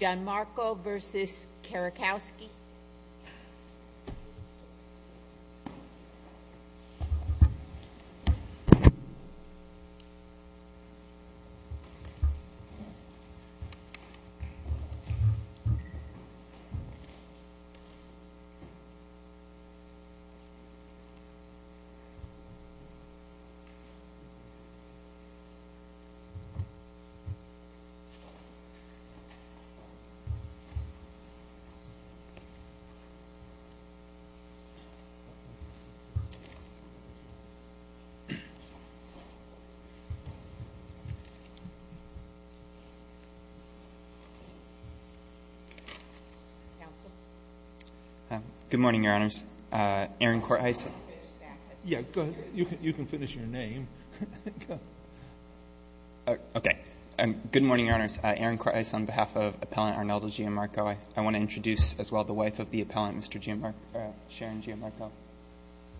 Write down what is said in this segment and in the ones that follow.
John Marco v. Kerlikowski Aaron Korthuis Good morning, Your Honors. Aaron Korthuis Yeah, go ahead. You can finish your name. Okay. Good morning, Your Honors. Aaron Korthuis on behalf of Appellant Arnaldo Gianmarco. I want to introduce as well the wife of the appellant, Mr. Gianmarco, Sharon Gianmarco.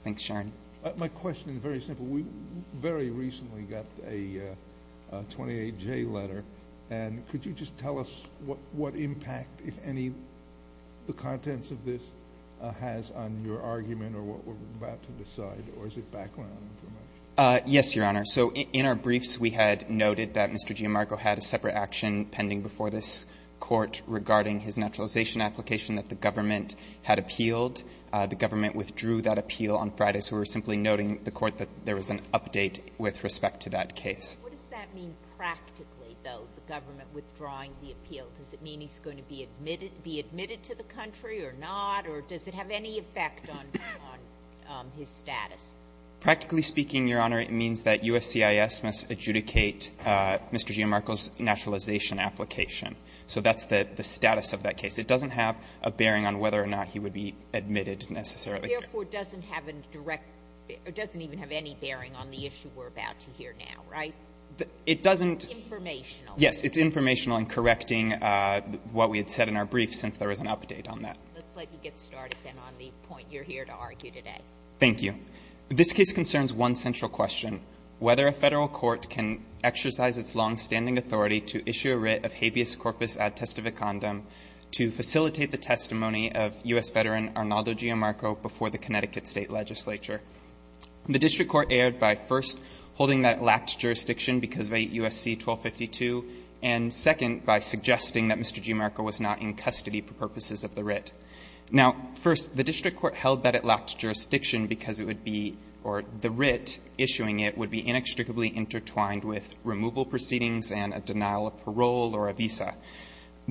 Thanks, Sharon. My question is very simple. We very recently got a 28-J letter. And could you just tell us what impact, if any, the contents of this has on your argument or what we're about to decide, or is it background information? Yes, Your Honor. So in our briefs, we had noted that Mr. Gianmarco had a separate action pending before this Court regarding his naturalization application that the government had appealed. The government withdrew that appeal on Friday, so we're simply noting to the Court that there was an update with respect to that case. What does that mean practically, though, the government withdrawing the appeal? Does it mean he's going to be admitted to the country or not, or does it have any effect on his status? Practically speaking, Your Honor, it means that USCIS must adjudicate Mr. Gianmarco's naturalization application. So that's the status of that case. It doesn't have a bearing on whether or not he would be admitted necessarily. Therefore, it doesn't have a direct or doesn't even have any bearing on the issue we're about to hear now, right? It doesn't. It's informational. Yes, it's informational in correcting what we had said in our brief since there was an update on that. Let's let you get started, then, on the point you're here to argue today. Thank you. This case concerns one central question, whether a Federal court can exercise its longstanding authority to issue a writ of habeas corpus ad testificandum to facilitate the testimony of U.S. veteran Arnaldo Gianmarco before the Connecticut State legislature. The district court erred by, first, holding that it lacked jurisdiction because of 8 U.S.C. 1252, and, second, by suggesting that Mr. Gianmarco was not in custody for purposes of the writ. Now, first, the district court held that it lacked jurisdiction because it would be or the writ issuing it would be inextricably intertwined with removal proceedings and a denial of parole or a visa.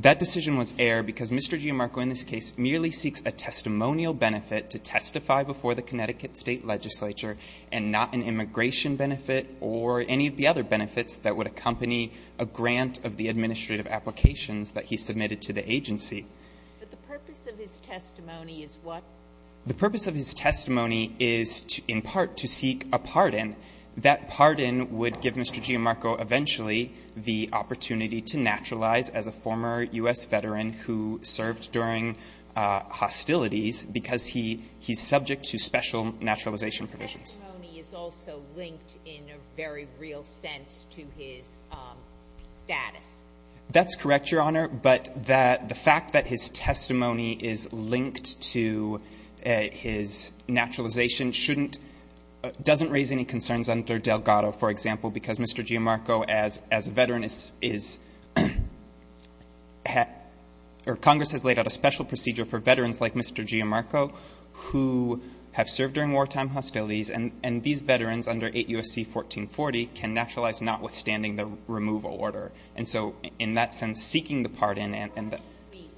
That decision was erred because Mr. Gianmarco in this case merely seeks a testimonial benefit to testify before the Connecticut State legislature and not an immigration benefit or any of the other benefits that would accompany a grant of the administrative applications that he submitted to the agency. But the purpose of his testimony is what? The purpose of his testimony is in part to seek a pardon. That pardon would give Mr. Gianmarco eventually the opportunity to naturalize as a former U.S. veteran who served during hostilities because he's subject to special naturalization provisions. His testimony is also linked in a very real sense to his status. That's correct, Your Honor. But the fact that his testimony is linked to his naturalization shouldn't — doesn't raise any concerns under Delgado, for example, because Mr. Gianmarco, as a veteran, is — or Congress has laid out a special procedure for veterans like Mr. Gianmarco who have served during wartime hostilities, and these veterans under 8 U.S.C. 1440 can naturalize notwithstanding the removal order. And so in that sense, seeking the pardon and the — Why can't we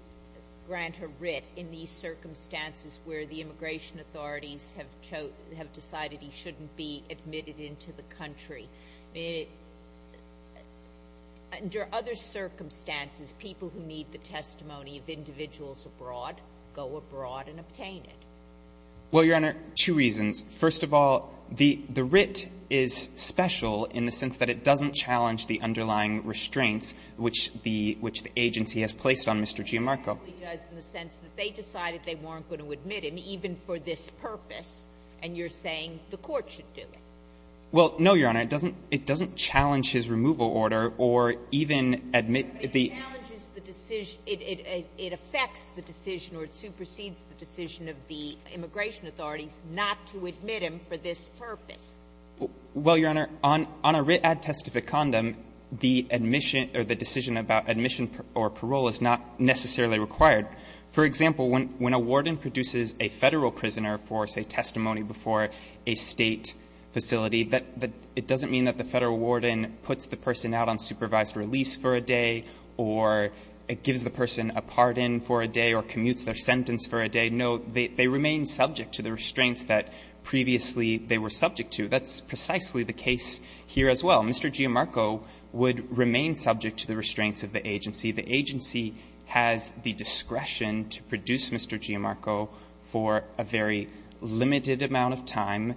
grant a writ in these circumstances where the immigration authorities have decided he shouldn't be admitted into the country? Under other circumstances, people who need the testimony of individuals abroad go abroad and obtain it. Well, Your Honor, two reasons. First of all, the writ is special in the sense that it doesn't challenge the underlying restraints which the — which the agency has placed on Mr. Gianmarco. It only does in the sense that they decided they weren't going to admit him, even for this purpose, and you're saying the court should do it. Well, no, Your Honor. It doesn't — it doesn't challenge his removal order or even admit the — But it challenges the decision — it affects the decision or it supersedes the decision of the immigration authorities not to admit him for this purpose. Well, Your Honor, on a writ ad testificandum, the admission — or the decision about admission or parole is not necessarily required. For example, when a warden produces a Federal prisoner for, say, testimony before a State facility, it doesn't mean that the Federal warden puts the person out on supervised release for a day or gives the person a pardon for a day or commutes their sentence for a day. No, they remain subject to the restraints that previously they were subject to. That's precisely the case here as well. Mr. Gianmarco would remain subject to the restraints of the agency. The agency has the discretion to produce Mr. Gianmarco for a very limited amount of time,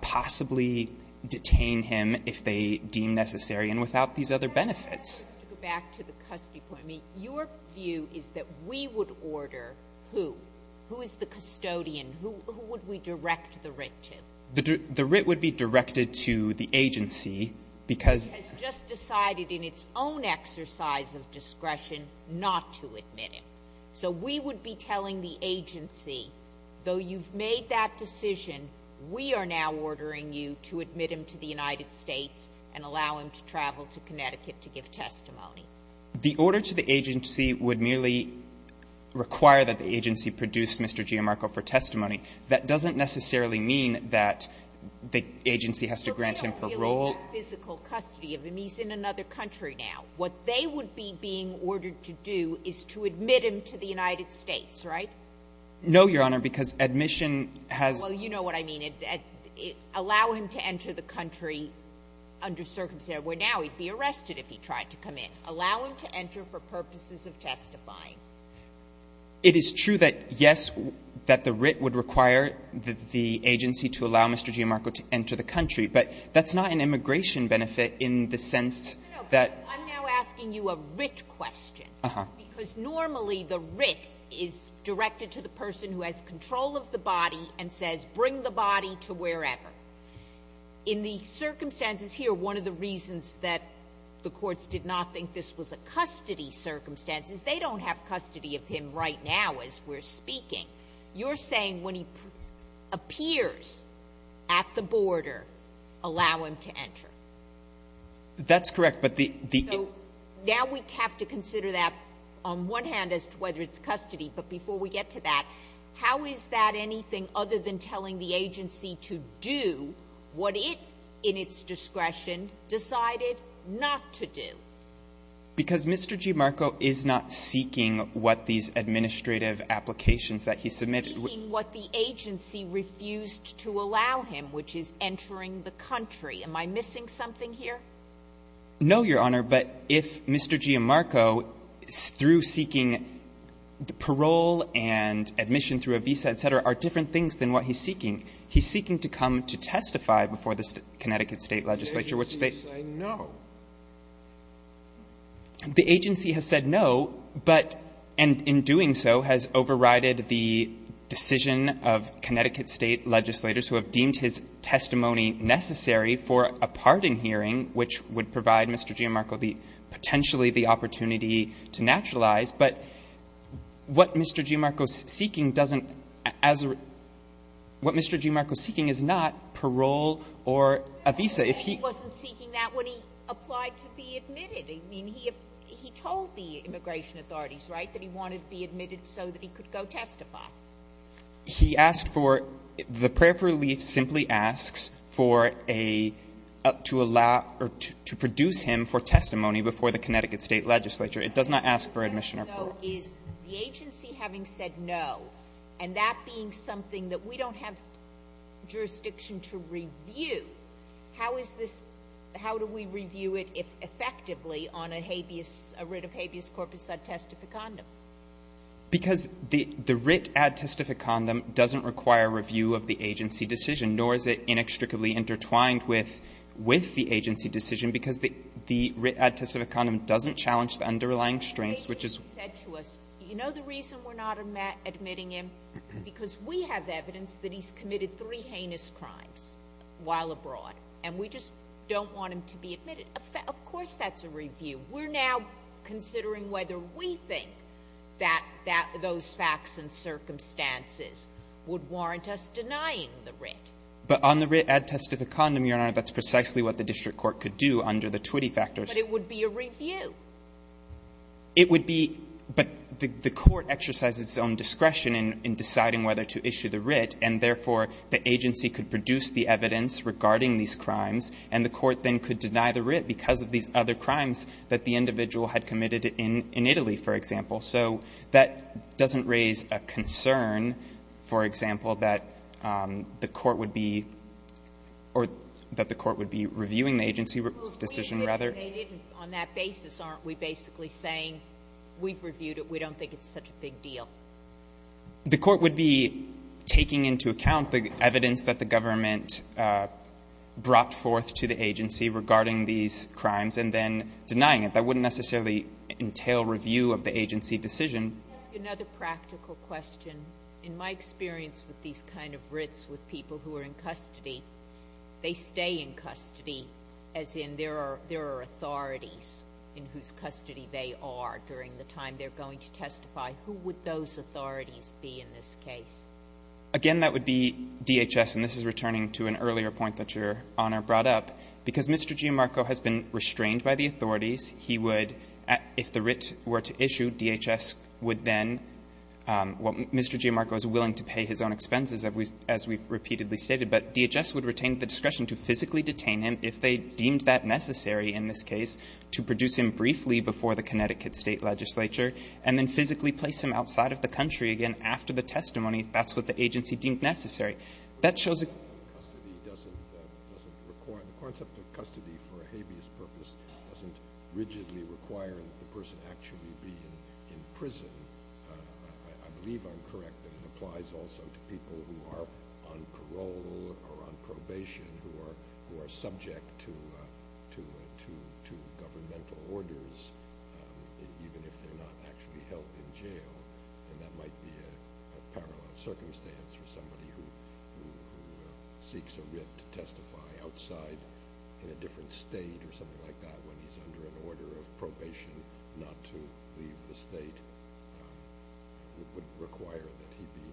possibly detain him if they deem necessary, and without these other benefits. To go back to the custody point, your view is that we would order who? Who is the custodian? Who would we direct the writ to? The writ would be directed to the agency because — The agency has just decided in its own exercise of discretion not to admit him. So we would be telling the agency, though you've made that decision, we are now ordering you to admit him to the United States and allow him to travel to Connecticut to give testimony. The order to the agency would merely require that the agency produce Mr. Gianmarco for testimony. That doesn't necessarily mean that the agency has to grant him parole. But they don't feel that physical custody of him. He's in another country now. What they would be being ordered to do is to admit him to the United States, right? No, Your Honor, because admission has — Well, you know what I mean. Allow him to enter the country under circumstances where now he'd be arrested if he tried to come in. Allow him to enter for purposes of testifying. It is true that, yes, that the writ would require the agency to allow Mr. Gianmarco to enter the country. But that's not an immigration benefit in the sense that — No, but I'm now asking you a writ question. Uh-huh. Because normally the writ is directed to the person who has control of the body and says bring the body to wherever. In the circumstances here, one of the reasons that the courts did not think this was a custody circumstance is they don't have custody of him right now as we're speaking. You're saying when he appears at the border, allow him to enter. That's correct. But the — So now we have to consider that on one hand as to whether it's custody. But before we get to that, how is that anything other than telling the agency to do what it, in its discretion, decided not to do? Because Mr. Gianmarco is not seeking what these administrative applications that he submitted — Seeking what the agency refused to allow him, which is entering the country. Am I missing something here? No, Your Honor. But if Mr. Gianmarco, through seeking parole and admission through a visa, et cetera, are different things than what he's seeking, he's seeking to come to testify before the Connecticut State legislature, which they — The agency is saying no. The agency has said no, but in doing so has overrided the decision of Connecticut State legislators who have deemed his testimony necessary for a parting hearing which would provide Mr. Gianmarco potentially the opportunity to naturalize. But what Mr. Gianmarco is seeking doesn't — what Mr. Gianmarco is seeking is not parole or a visa. He wasn't seeking that when he applied to be admitted. I mean, he told the immigration authorities, right, that he wanted to be admitted so that he could go testify. He asked for — the prayer for relief simply asks for a — to allow — or to produce him for testimony before the Connecticut State legislature. It does not ask for admission or parole. The question, though, is the agency having said no, and that being something that we don't have jurisdiction to review, how is this — how do we review it effectively on a habeas — a writ of habeas corpus sub testificandum? Because the — the writ ad testificandum doesn't require review of the agency decision, nor is it inextricably intertwined with — with the agency decision, because the — the writ ad testificandum doesn't challenge the underlying strengths, which is — You know the reason we're not admitting him? Because we have evidence that he's committed three heinous crimes while abroad, and we just don't want him to be admitted. Of course that's a review. We're now considering whether we think that — that those facts and circumstances would warrant us denying the writ. But on the writ ad testificandum, Your Honor, that's precisely what the district court could do under the Twitty factors. But it would be a review. It would be — but the court exercises its own discretion in deciding whether to issue the writ, and therefore, the agency could produce the evidence regarding these crimes, and the court then could deny the writ because of these other crimes that the individual had committed in Italy, for example. So that doesn't raise a concern, for example, that the court would be — or that the court would be reviewing the agency decision, rather. Well, if they didn't, on that basis, aren't we basically saying we've reviewed it, we don't think it's such a big deal? The court would be taking into account the evidence that the government brought forth to the agency regarding these crimes and then denying it. That wouldn't necessarily entail review of the agency decision. Another practical question. In my experience with these kind of writs with people who are in custody, they stay in custody as in there are authorities in whose custody they are during the time they're going to testify. Who would those authorities be in this case? Again, that would be DHS. And this is returning to an earlier point that Your Honor brought up. Because Mr. Giammarco has been restrained by the authorities, he would — if the writ were to issue, DHS would then — well, Mr. Giammarco is willing to pay his own expenses, as we've repeatedly stated. But DHS would retain the discretion to physically detain him if they deemed that necessary in this case, to produce him briefly before the Connecticut State Legislature, and then physically place him outside of the country again after the testimony if that's what the agency deemed necessary. That shows a — purpose doesn't rigidly require that the person actually be in prison. I believe I'm correct that it applies also to people who are on parole or on probation who are subject to governmental orders, even if they're not actually held in jail. And that might be a parallel circumstance for somebody who seeks a writ to testify outside in a different State or something like that when he's under an order of probation not to leave the State. It would require that he be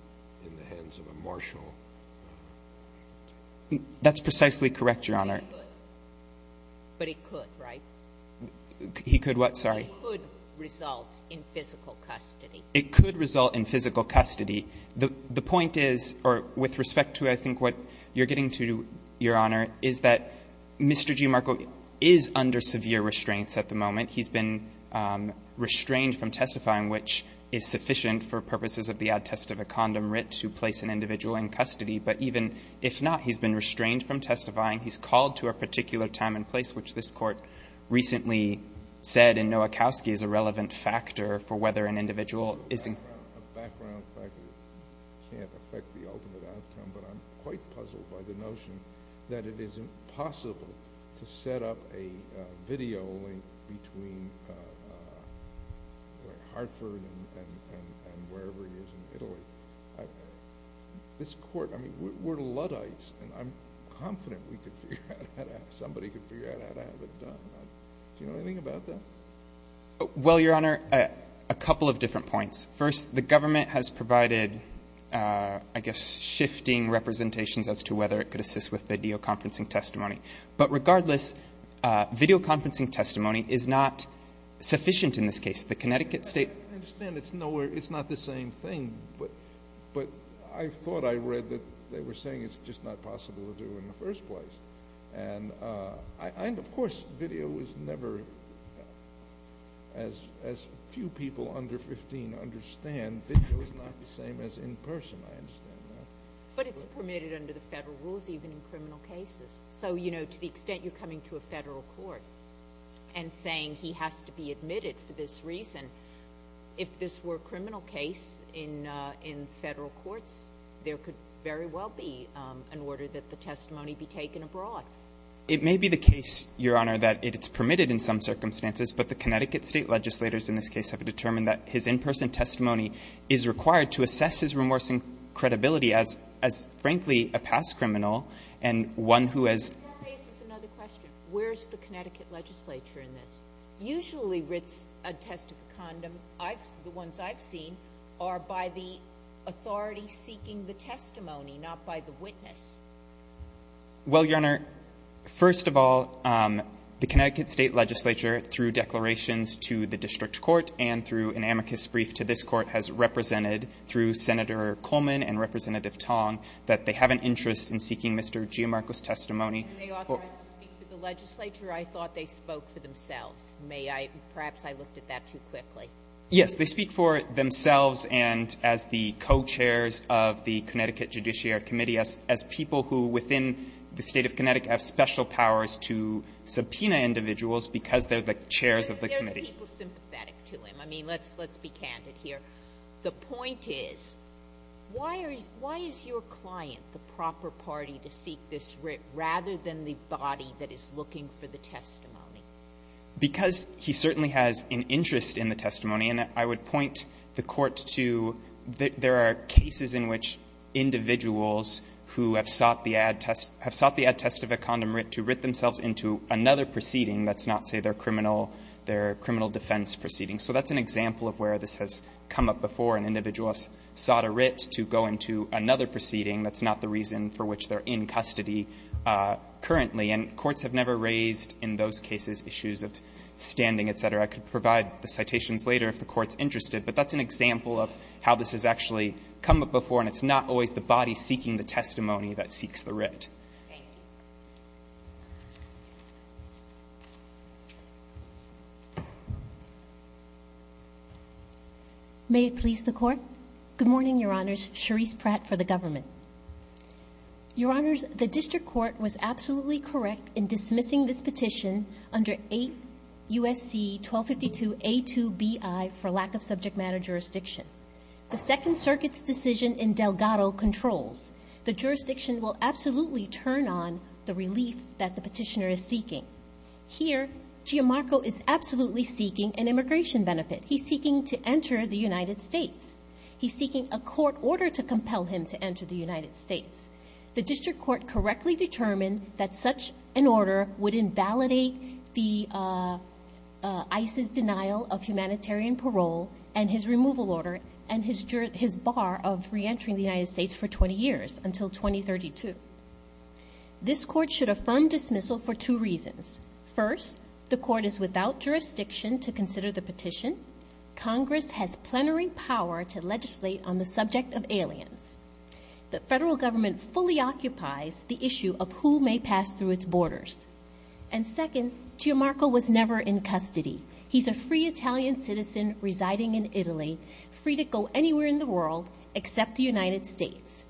in the hands of a marshal. That's precisely correct, Your Honor. But it could, right? He could what? Sorry. It could result in physical custody. It could result in physical custody. The point is, or with respect to, I think, what you're getting to, Your Honor, is that Mr. G. Markle is under severe restraints at the moment. He's been restrained from testifying, which is sufficient for purposes of the ad test of a condom writ to place an individual in custody. But even if not, he's been restrained from testifying. He's called to a particular time and place, which this Court recently said in Nowakowski is a relevant factor for whether an individual is in custody. It can't affect the ultimate outcome, but I'm quite puzzled by the notion that it is impossible to set up a video link between Hartford and wherever he is in Italy. This Court, I mean, we're Luddites, and I'm confident we could figure that out. Somebody could figure out how to have it done. Do you know anything about that? Well, Your Honor, a couple of different points. First, the government has provided, I guess, shifting representations as to whether it could assist with videoconferencing testimony. But regardless, videoconferencing testimony is not sufficient in this case. The Connecticut State – I understand it's not the same thing, but I thought I read that they were saying it's just not possible to do in the first place. And, of course, video was never, as few people under 15 understand, video is not the same as in person. I understand that. But it's permitted under the federal rules, even in criminal cases. So, you know, to the extent you're coming to a federal court and saying he has to be admitted for this reason, if this were a criminal case in federal courts, there could very well be an order that the testimony be taken abroad. It may be the case, Your Honor, that it's permitted in some circumstances, but the Connecticut State legislators in this case have determined that his in-person testimony is required to assess his remorse and credibility as, frankly, a past criminal and one who has – That raises another question. Where's the Connecticut legislature in this? Usually a test of a condom, the ones I've seen, are by the authority seeking the testimony, not by the witness. Well, Your Honor, first of all, the Connecticut State legislature, through declarations to the district court and through an amicus brief to this court, has represented through Senator Coleman and Representative Tong that they have an interest in seeking Mr. Giamarco's testimony. And they authorize to speak for the legislature? I thought they spoke for themselves. May I – perhaps I looked at that too quickly. Yes. They speak for themselves and as the co-chairs of the Connecticut Judiciary Committee, as people who within the State of Connecticut have special powers to subpoena individuals because they're the chairs of the committee. They're the people sympathetic to him. I mean, let's be candid here. The point is, why are you – why is your client the proper party to seek this writ rather than the body that is looking for the testimony? Because he certainly has an interest in the testimony. And I would point the Court to there are cases in which individuals who have sought the add test – have sought the add test of a condom writ to writ themselves into another proceeding that's not, say, their criminal defense proceeding. So that's an example of where this has come up before. An individual has sought a writ to go into another proceeding. That's not the reason for which they're in custody currently. And courts have never raised in those cases issues of standing, et cetera. I could provide the citations later if the Court's interested, but that's an example of how this has actually come up before. And it's not always the body seeking the testimony that seeks the writ. Thank you. May it please the Court. Good morning, Your Honors. Cherise Pratt for the Government. Your Honors, the District Court was absolutely correct in dismissing this petition under 8 U.S.C. 1252a2bi for lack of subject matter jurisdiction. The Second Circuit's decision in Delgado controls. The jurisdiction will absolutely turn on the relief that the petitioner is seeking. Here, Gianmarco is absolutely seeking an immigration benefit. He's seeking to enter the United States. He's seeking a court order to compel him to enter the United States. The District Court correctly determined that such an order would invalidate the ICE's denial of humanitarian parole and his removal order and his bar of reentering the United States for 20 years until 2032. This Court should affirm dismissal for two reasons. First, the Court is without jurisdiction to consider the petition. Congress has plenary power to legislate on the subject of aliens. The federal government fully occupies the issue of who may pass through its borders. And second, Gianmarco was never in custody. He's a free Italian citizen residing in Italy, free to go anywhere in the world except the United States.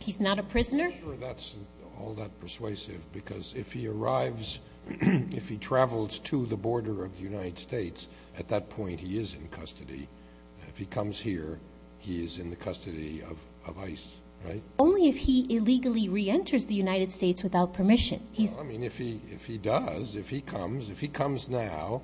He's not a prisoner. I'm not sure that's all that persuasive because if he arrives, if he travels to the border of the United States, at that point he is in custody. If he comes here, he is in the custody of ICE, right? Only if he illegally reenters the United States without permission. I mean, if he does, if he comes, if he comes now,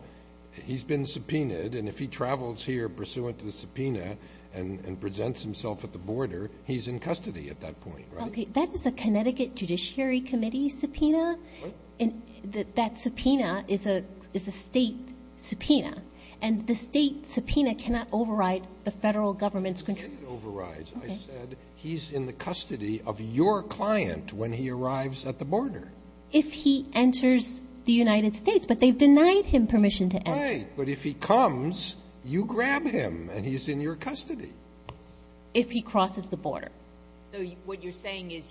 he's been subpoenaed, and if he travels here pursuant to the subpoena and presents himself at the border, he's in custody at that point, right? That is a Connecticut Judiciary Committee subpoena. What? That subpoena is a state subpoena, and the state subpoena cannot override the federal government's control. It can't override. I said he's in the custody of your client when he arrives at the border. If he enters the United States, but they've denied him permission to enter. Right, but if he comes, you grab him, and he's in your custody. If he crosses the border. So what you're saying is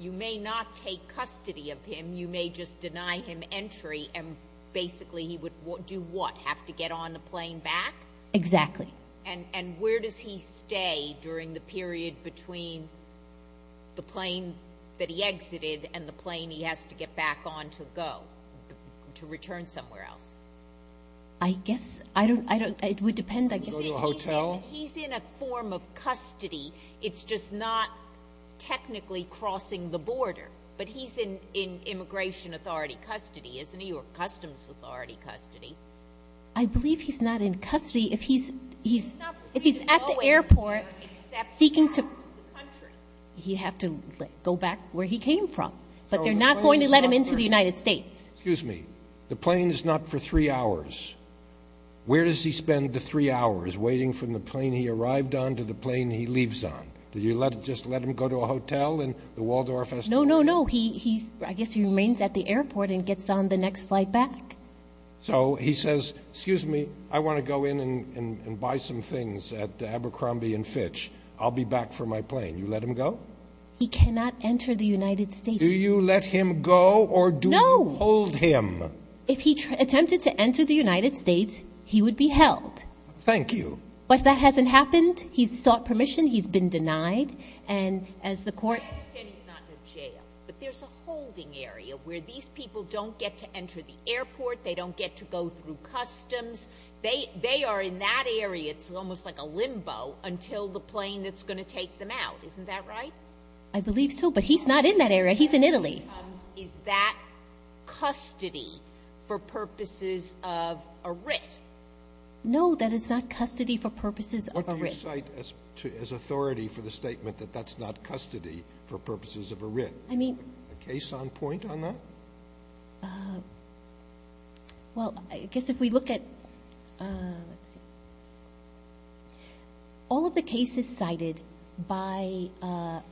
you may not take custody of him, you may just deny him entry, and basically he would do what? Have to get on the plane back? Exactly. And where does he stay during the period between the plane that he exited and the plane he has to get back on to go, to return somewhere else? I guess. It would depend. Go to a hotel? He's in a form of custody. It's just not technically crossing the border, but he's in immigration authority custody, isn't he, or customs authority custody. I believe he's not in custody. If he's at the airport seeking to go back to the country, he'd have to go back where he came from. But they're not going to let him into the United States. Excuse me. The plane is not for three hours. Where does he spend the three hours, waiting from the plane he arrived on to the plane he leaves on? Do you just let him go to a hotel in the Waldorf? No, no, no. I guess he remains at the airport and gets on the next flight back. So he says, excuse me, I want to go in and buy some things at Abercrombie & Fitch. I'll be back for my plane. You let him go? He cannot enter the United States. Do you let him go or do you hold him? No. If he attempted to enter the United States, he would be held. Thank you. But that hasn't happened. He's sought permission. He's been denied. And as the court – I understand he's not in a jail, but there's a holding area where these people don't get to enter the airport, they don't get to go through customs. They are in that area. It's almost like a limbo until the plane that's going to take them out. Isn't that right? I believe so. But he's not in that area. He's in Italy. Is that custody for purposes of a writ? No, that is not custody for purposes of a writ. What do you cite as authority for the statement that that's not custody for purposes of a writ? I mean – A case on point on that? Well, I guess if we look at – all of the cases cited by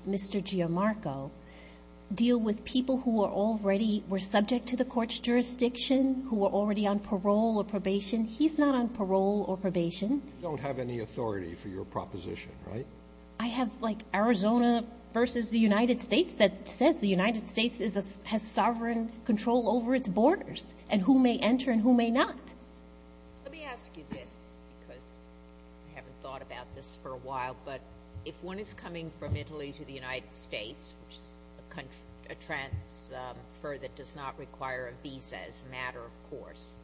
Mr. Giammarco deal with people who are already – were subject to the court's jurisdiction, who were already on parole or probation. He's not on parole or probation. You don't have any authority for your proposition, right? I have, like, Arizona versus the United States that says the United States has sovereign control over its borders and who may enter and who may not. Let me ask you this because I haven't thought about this for a while, but if one is coming from Italy to the United States, which is a transfer that does not require a visa as a matter of course,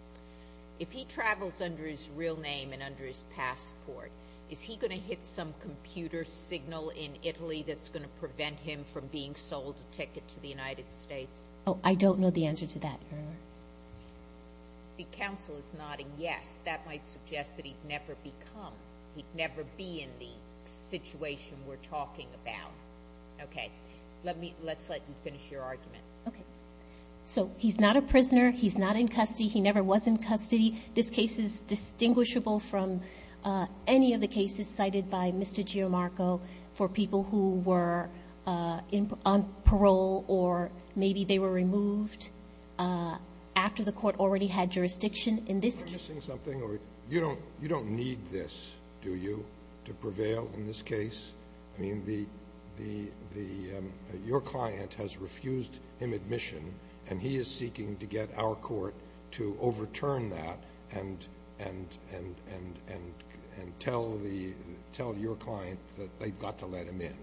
if he travels under his real name and under his passport, is he going to hit some computer signal in Italy that's going to prevent him from being sold a ticket to the United States? Oh, I don't know the answer to that, Your Honor. See, counsel is nodding yes. That might suggest that he'd never become – he'd never be in the situation we're talking about. Okay. Let's let you finish your argument. Okay. So he's not a prisoner. He's not in custody. He never was in custody. This case is distinguishable from any of the cases cited by Mr. Giamarco for people who were on parole or maybe they were removed after the court already had jurisdiction in this case. You're missing something. You don't need this, do you, to prevail in this case? I mean, your client has refused him admission, and he is seeking to get our court to overturn that and tell your client that they've got to let him in.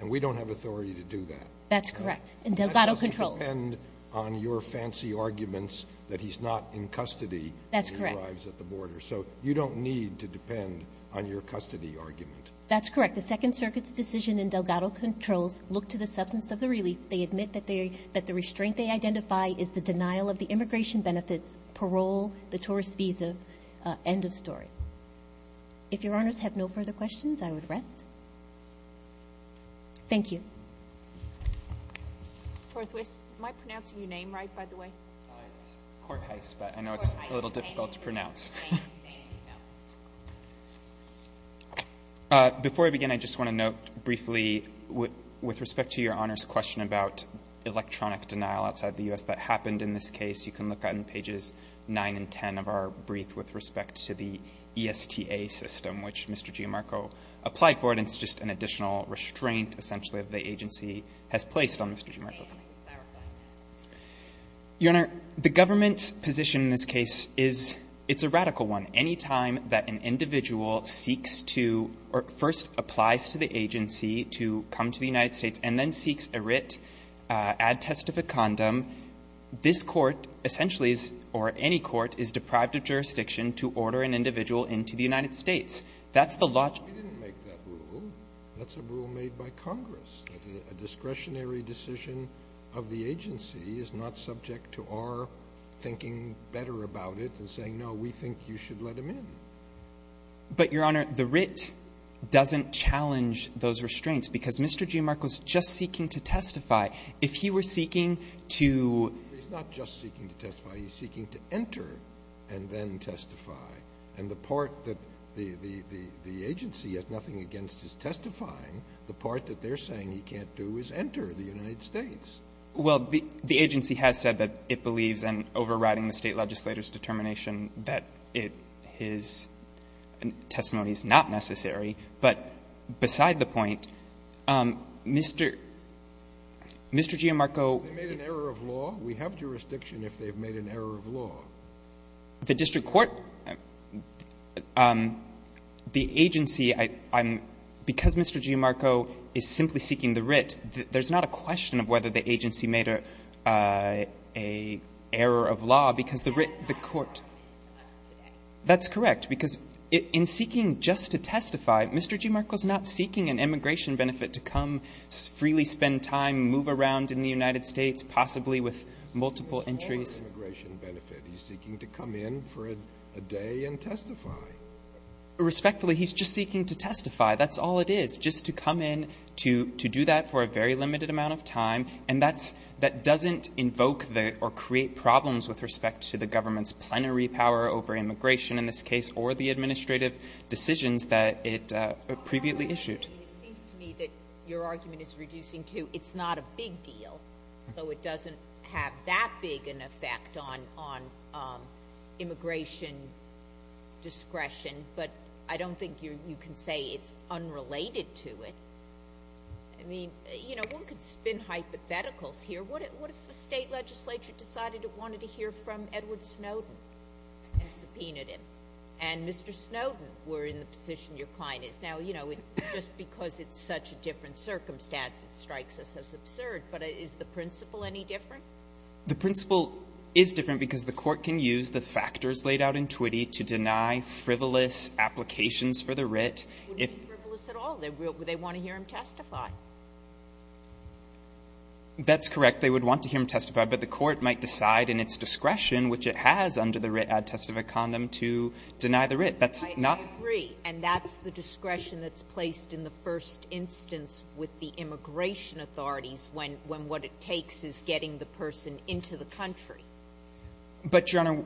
And we don't have authority to do that. That's correct. And Delgado controls. It doesn't depend on your fancy arguments that he's not in custody when he arrives at the border. That's correct. So you don't need to depend on your custody argument. That's correct. The Second Circuit's decision in Delgado controls look to the substance of the relief. They admit that the restraint they identify is the denial of the immigration benefits, parole, the tourist visa, end of story. If Your Honors have no further questions, I would rest. Thank you. Horthwist. Am I pronouncing your name right, by the way? It's Horthwist, but I know it's a little difficult to pronounce. Thank you. Before I begin, I just want to note briefly, with respect to Your Honors' question about electronic denial outside the U.S. that happened in this case, you can look on pages 9 and 10 of our brief with respect to the ESTA system, which Mr. Giammarco applied for, but it's just an additional restraint, essentially, that the agency has placed on Mr. Giammarco. Your Honor, the government's position in this case is it's a radical one. Any time that an individual seeks to or first applies to the agency to come to the United States and then seeks a writ, add testificandum, this Court essentially is, or any Court, is deprived of jurisdiction to order an individual into the United States. That's the logic. We didn't make that rule. That's a rule made by Congress, that a discretionary decision of the agency is not subject to our thinking better about it than saying, no, we think you should let him in. But, Your Honor, the writ doesn't challenge those restraints, because Mr. Giammarco's just seeking to testify. If he were seeking to — He's not just seeking to testify. He's seeking to enter and then testify. And the part that the agency has nothing against is testifying. The part that they're saying he can't do is enter the United States. Well, the agency has said that it believes in overriding the State legislator's determination that his testimony is not necessary. But beside the point, Mr. Giammarco — They made an error of law. We have jurisdiction if they've made an error of law. The district court, the agency, I'm — because Mr. Giammarco is simply seeking the writ, there's not a question of whether the agency made a — a error of law, because the writ — the court — That's not a question. That's correct. Because in seeking just to testify, Mr. Giammarco's not seeking an immigration benefit to come, freely spend time, move around in the United States, possibly with multiple entries. He's not seeking an immigration benefit. He's seeking to come in for a day and testify. Respectfully, he's just seeking to testify. That's all it is, just to come in to do that for a very limited amount of time. And that's — that doesn't invoke the — or create problems with respect to the government's plenary power over immigration in this case or the administrative decisions that it previously issued. It seems to me that your argument is reducing to it's not a big deal, so it doesn't have that big an effect on — on immigration discretion. But I don't think you can say it's unrelated to it. I mean, you know, one could spin hypotheticals here. What if the state legislature decided it wanted to hear from Edward Snowden and subpoenaed him? And Mr. Snowden, we're in the position your client is. Now, you know, just because it's such a different circumstance, it strikes us as The principle is different because the court can use the factors laid out in Twitty to deny frivolous applications for the writ if — It wouldn't be frivolous at all. They want to hear him testify. That's correct. They would want to hear him testify, but the court might decide in its discretion, which it has under the writ ad testificandum, to deny the writ. That's not — I agree. And that's the discretion that's placed in the first instance with the immigration authorities when what it takes is getting the person into the country. But, Your Honor,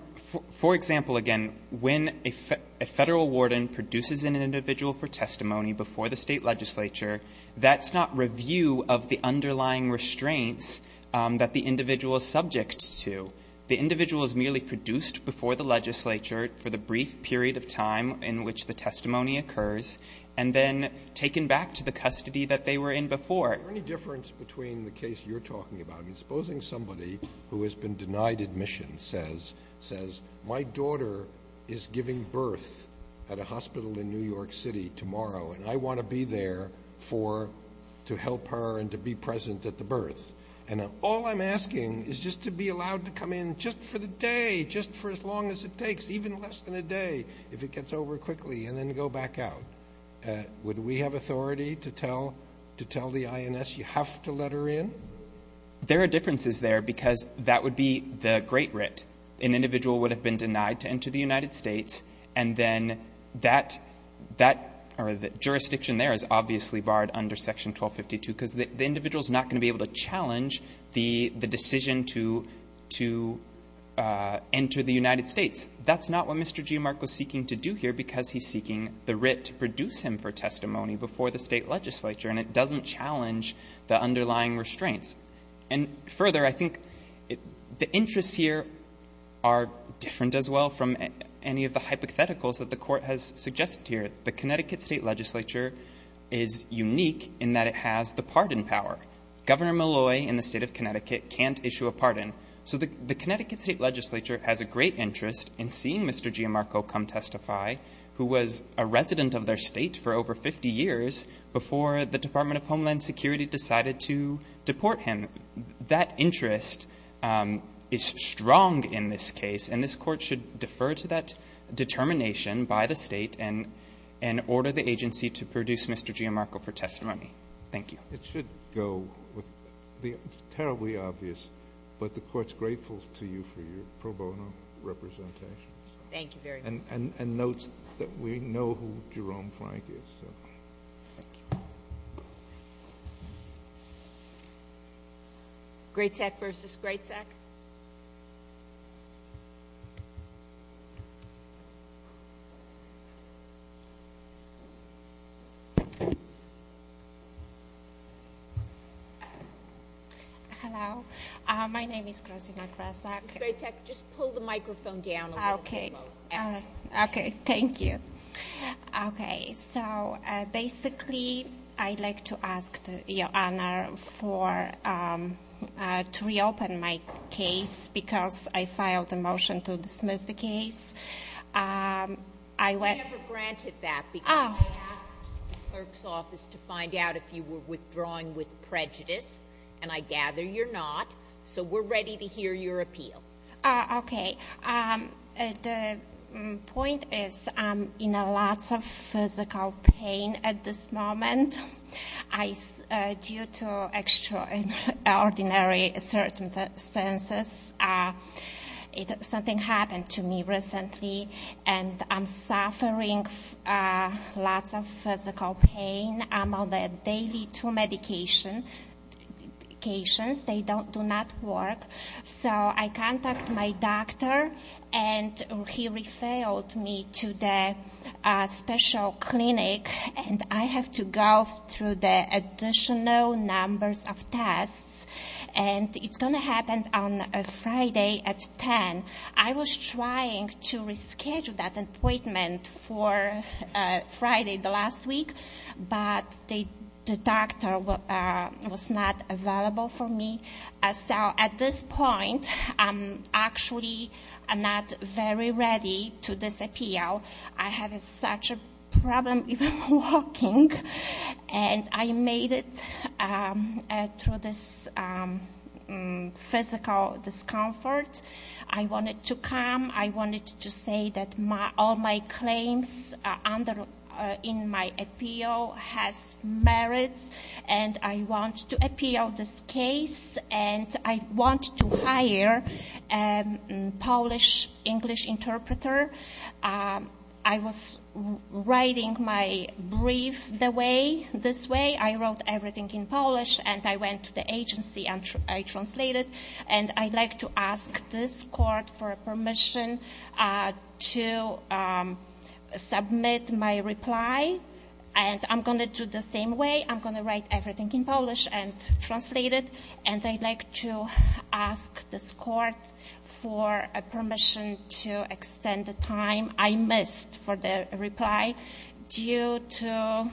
for example, again, when a Federal warden produces an individual for testimony before the state legislature, that's not review of the underlying restraints that the individual is subject to. The individual is merely produced before the legislature for the brief period of time in which the testimony occurs, and then taken back to the custody that they were in before. Is there any difference between the case you're talking about and supposing somebody who has been denied admission says, my daughter is giving birth at a hospital in New York City tomorrow, and I want to be there for — to help her and to be present at the birth, and all I'm asking is just to be allowed to come in just for the day, just for as long as it takes, even less than a day, if it gets over quickly, and then go back out. Would we have authority to tell — to tell the INS, you have to let her in? There are differences there because that would be the great writ. An individual would have been denied to enter the United States, and then that — that — or the jurisdiction there is obviously barred under Section 1252 because the individual is not going to be able to challenge the — the decision to — to enter the United States. That's not what Mr. Giamarco is seeking to do here because he's seeking the writ to produce him for testimony before the State Legislature, and it doesn't challenge the underlying restraints. And further, I think the interests here are different as well from any of the hypotheticals that the Court has suggested here. The Connecticut State Legislature is unique in that it has the pardon power. So the Connecticut State Legislature has a great interest in seeing Mr. Giamarco come testify, who was a resident of their state for over 50 years before the Department of Homeland Security decided to deport him. That interest is strong in this case, and this Court should defer to that determination by the State and — and order the agency to produce Mr. Giamarco for testimony. Thank you. It should go with — it's terribly obvious, but the Court's grateful to you for your pro bono representations. Thank you very much. And notes that we know who Jerome Frank is, so. Thank you. Greatsack v. Greatsack. Hello. My name is Krasina Gratsack. Ms. Greatsack, just pull the microphone down a little bit more. Okay. Okay. Thank you. Okay. So, basically, I'd like to ask Your Honor for — to reopen my case because I filed a motion to dismiss the case. I — We never granted that because — Oh. I'm withdrawing with prejudice, and I gather you're not, so we're ready to hear your appeal. Okay. The point is I'm in lots of physical pain at this moment. I — due to extraordinary circumstances, something happened to me recently, and I'm on only two medications. They do not work. So I contact my doctor, and he refilled me to the special clinic, and I have to go through the additional numbers of tests, and it's going to happen on Friday at 10. And I was trying to reschedule that appointment for Friday, the last week, but the doctor was not available for me. So at this point, I'm actually not very ready to disappear. I have such a problem even walking, and I made it through this physical discomfort. I wanted to come. I wanted to say that all my claims under — in my appeal has merits, and I want to appeal this case, and I want to hire a Polish-English interpreter. I was writing my brief the way — this way. I wrote everything in Polish, and I went to the agency, and I translated. And I'd like to ask this court for permission to submit my reply, and I'm going to do the same way. I'm going to write everything in Polish and translate it, and I'd like to ask this court for permission to extend the time I missed for the reply due to extraordinary circumstances.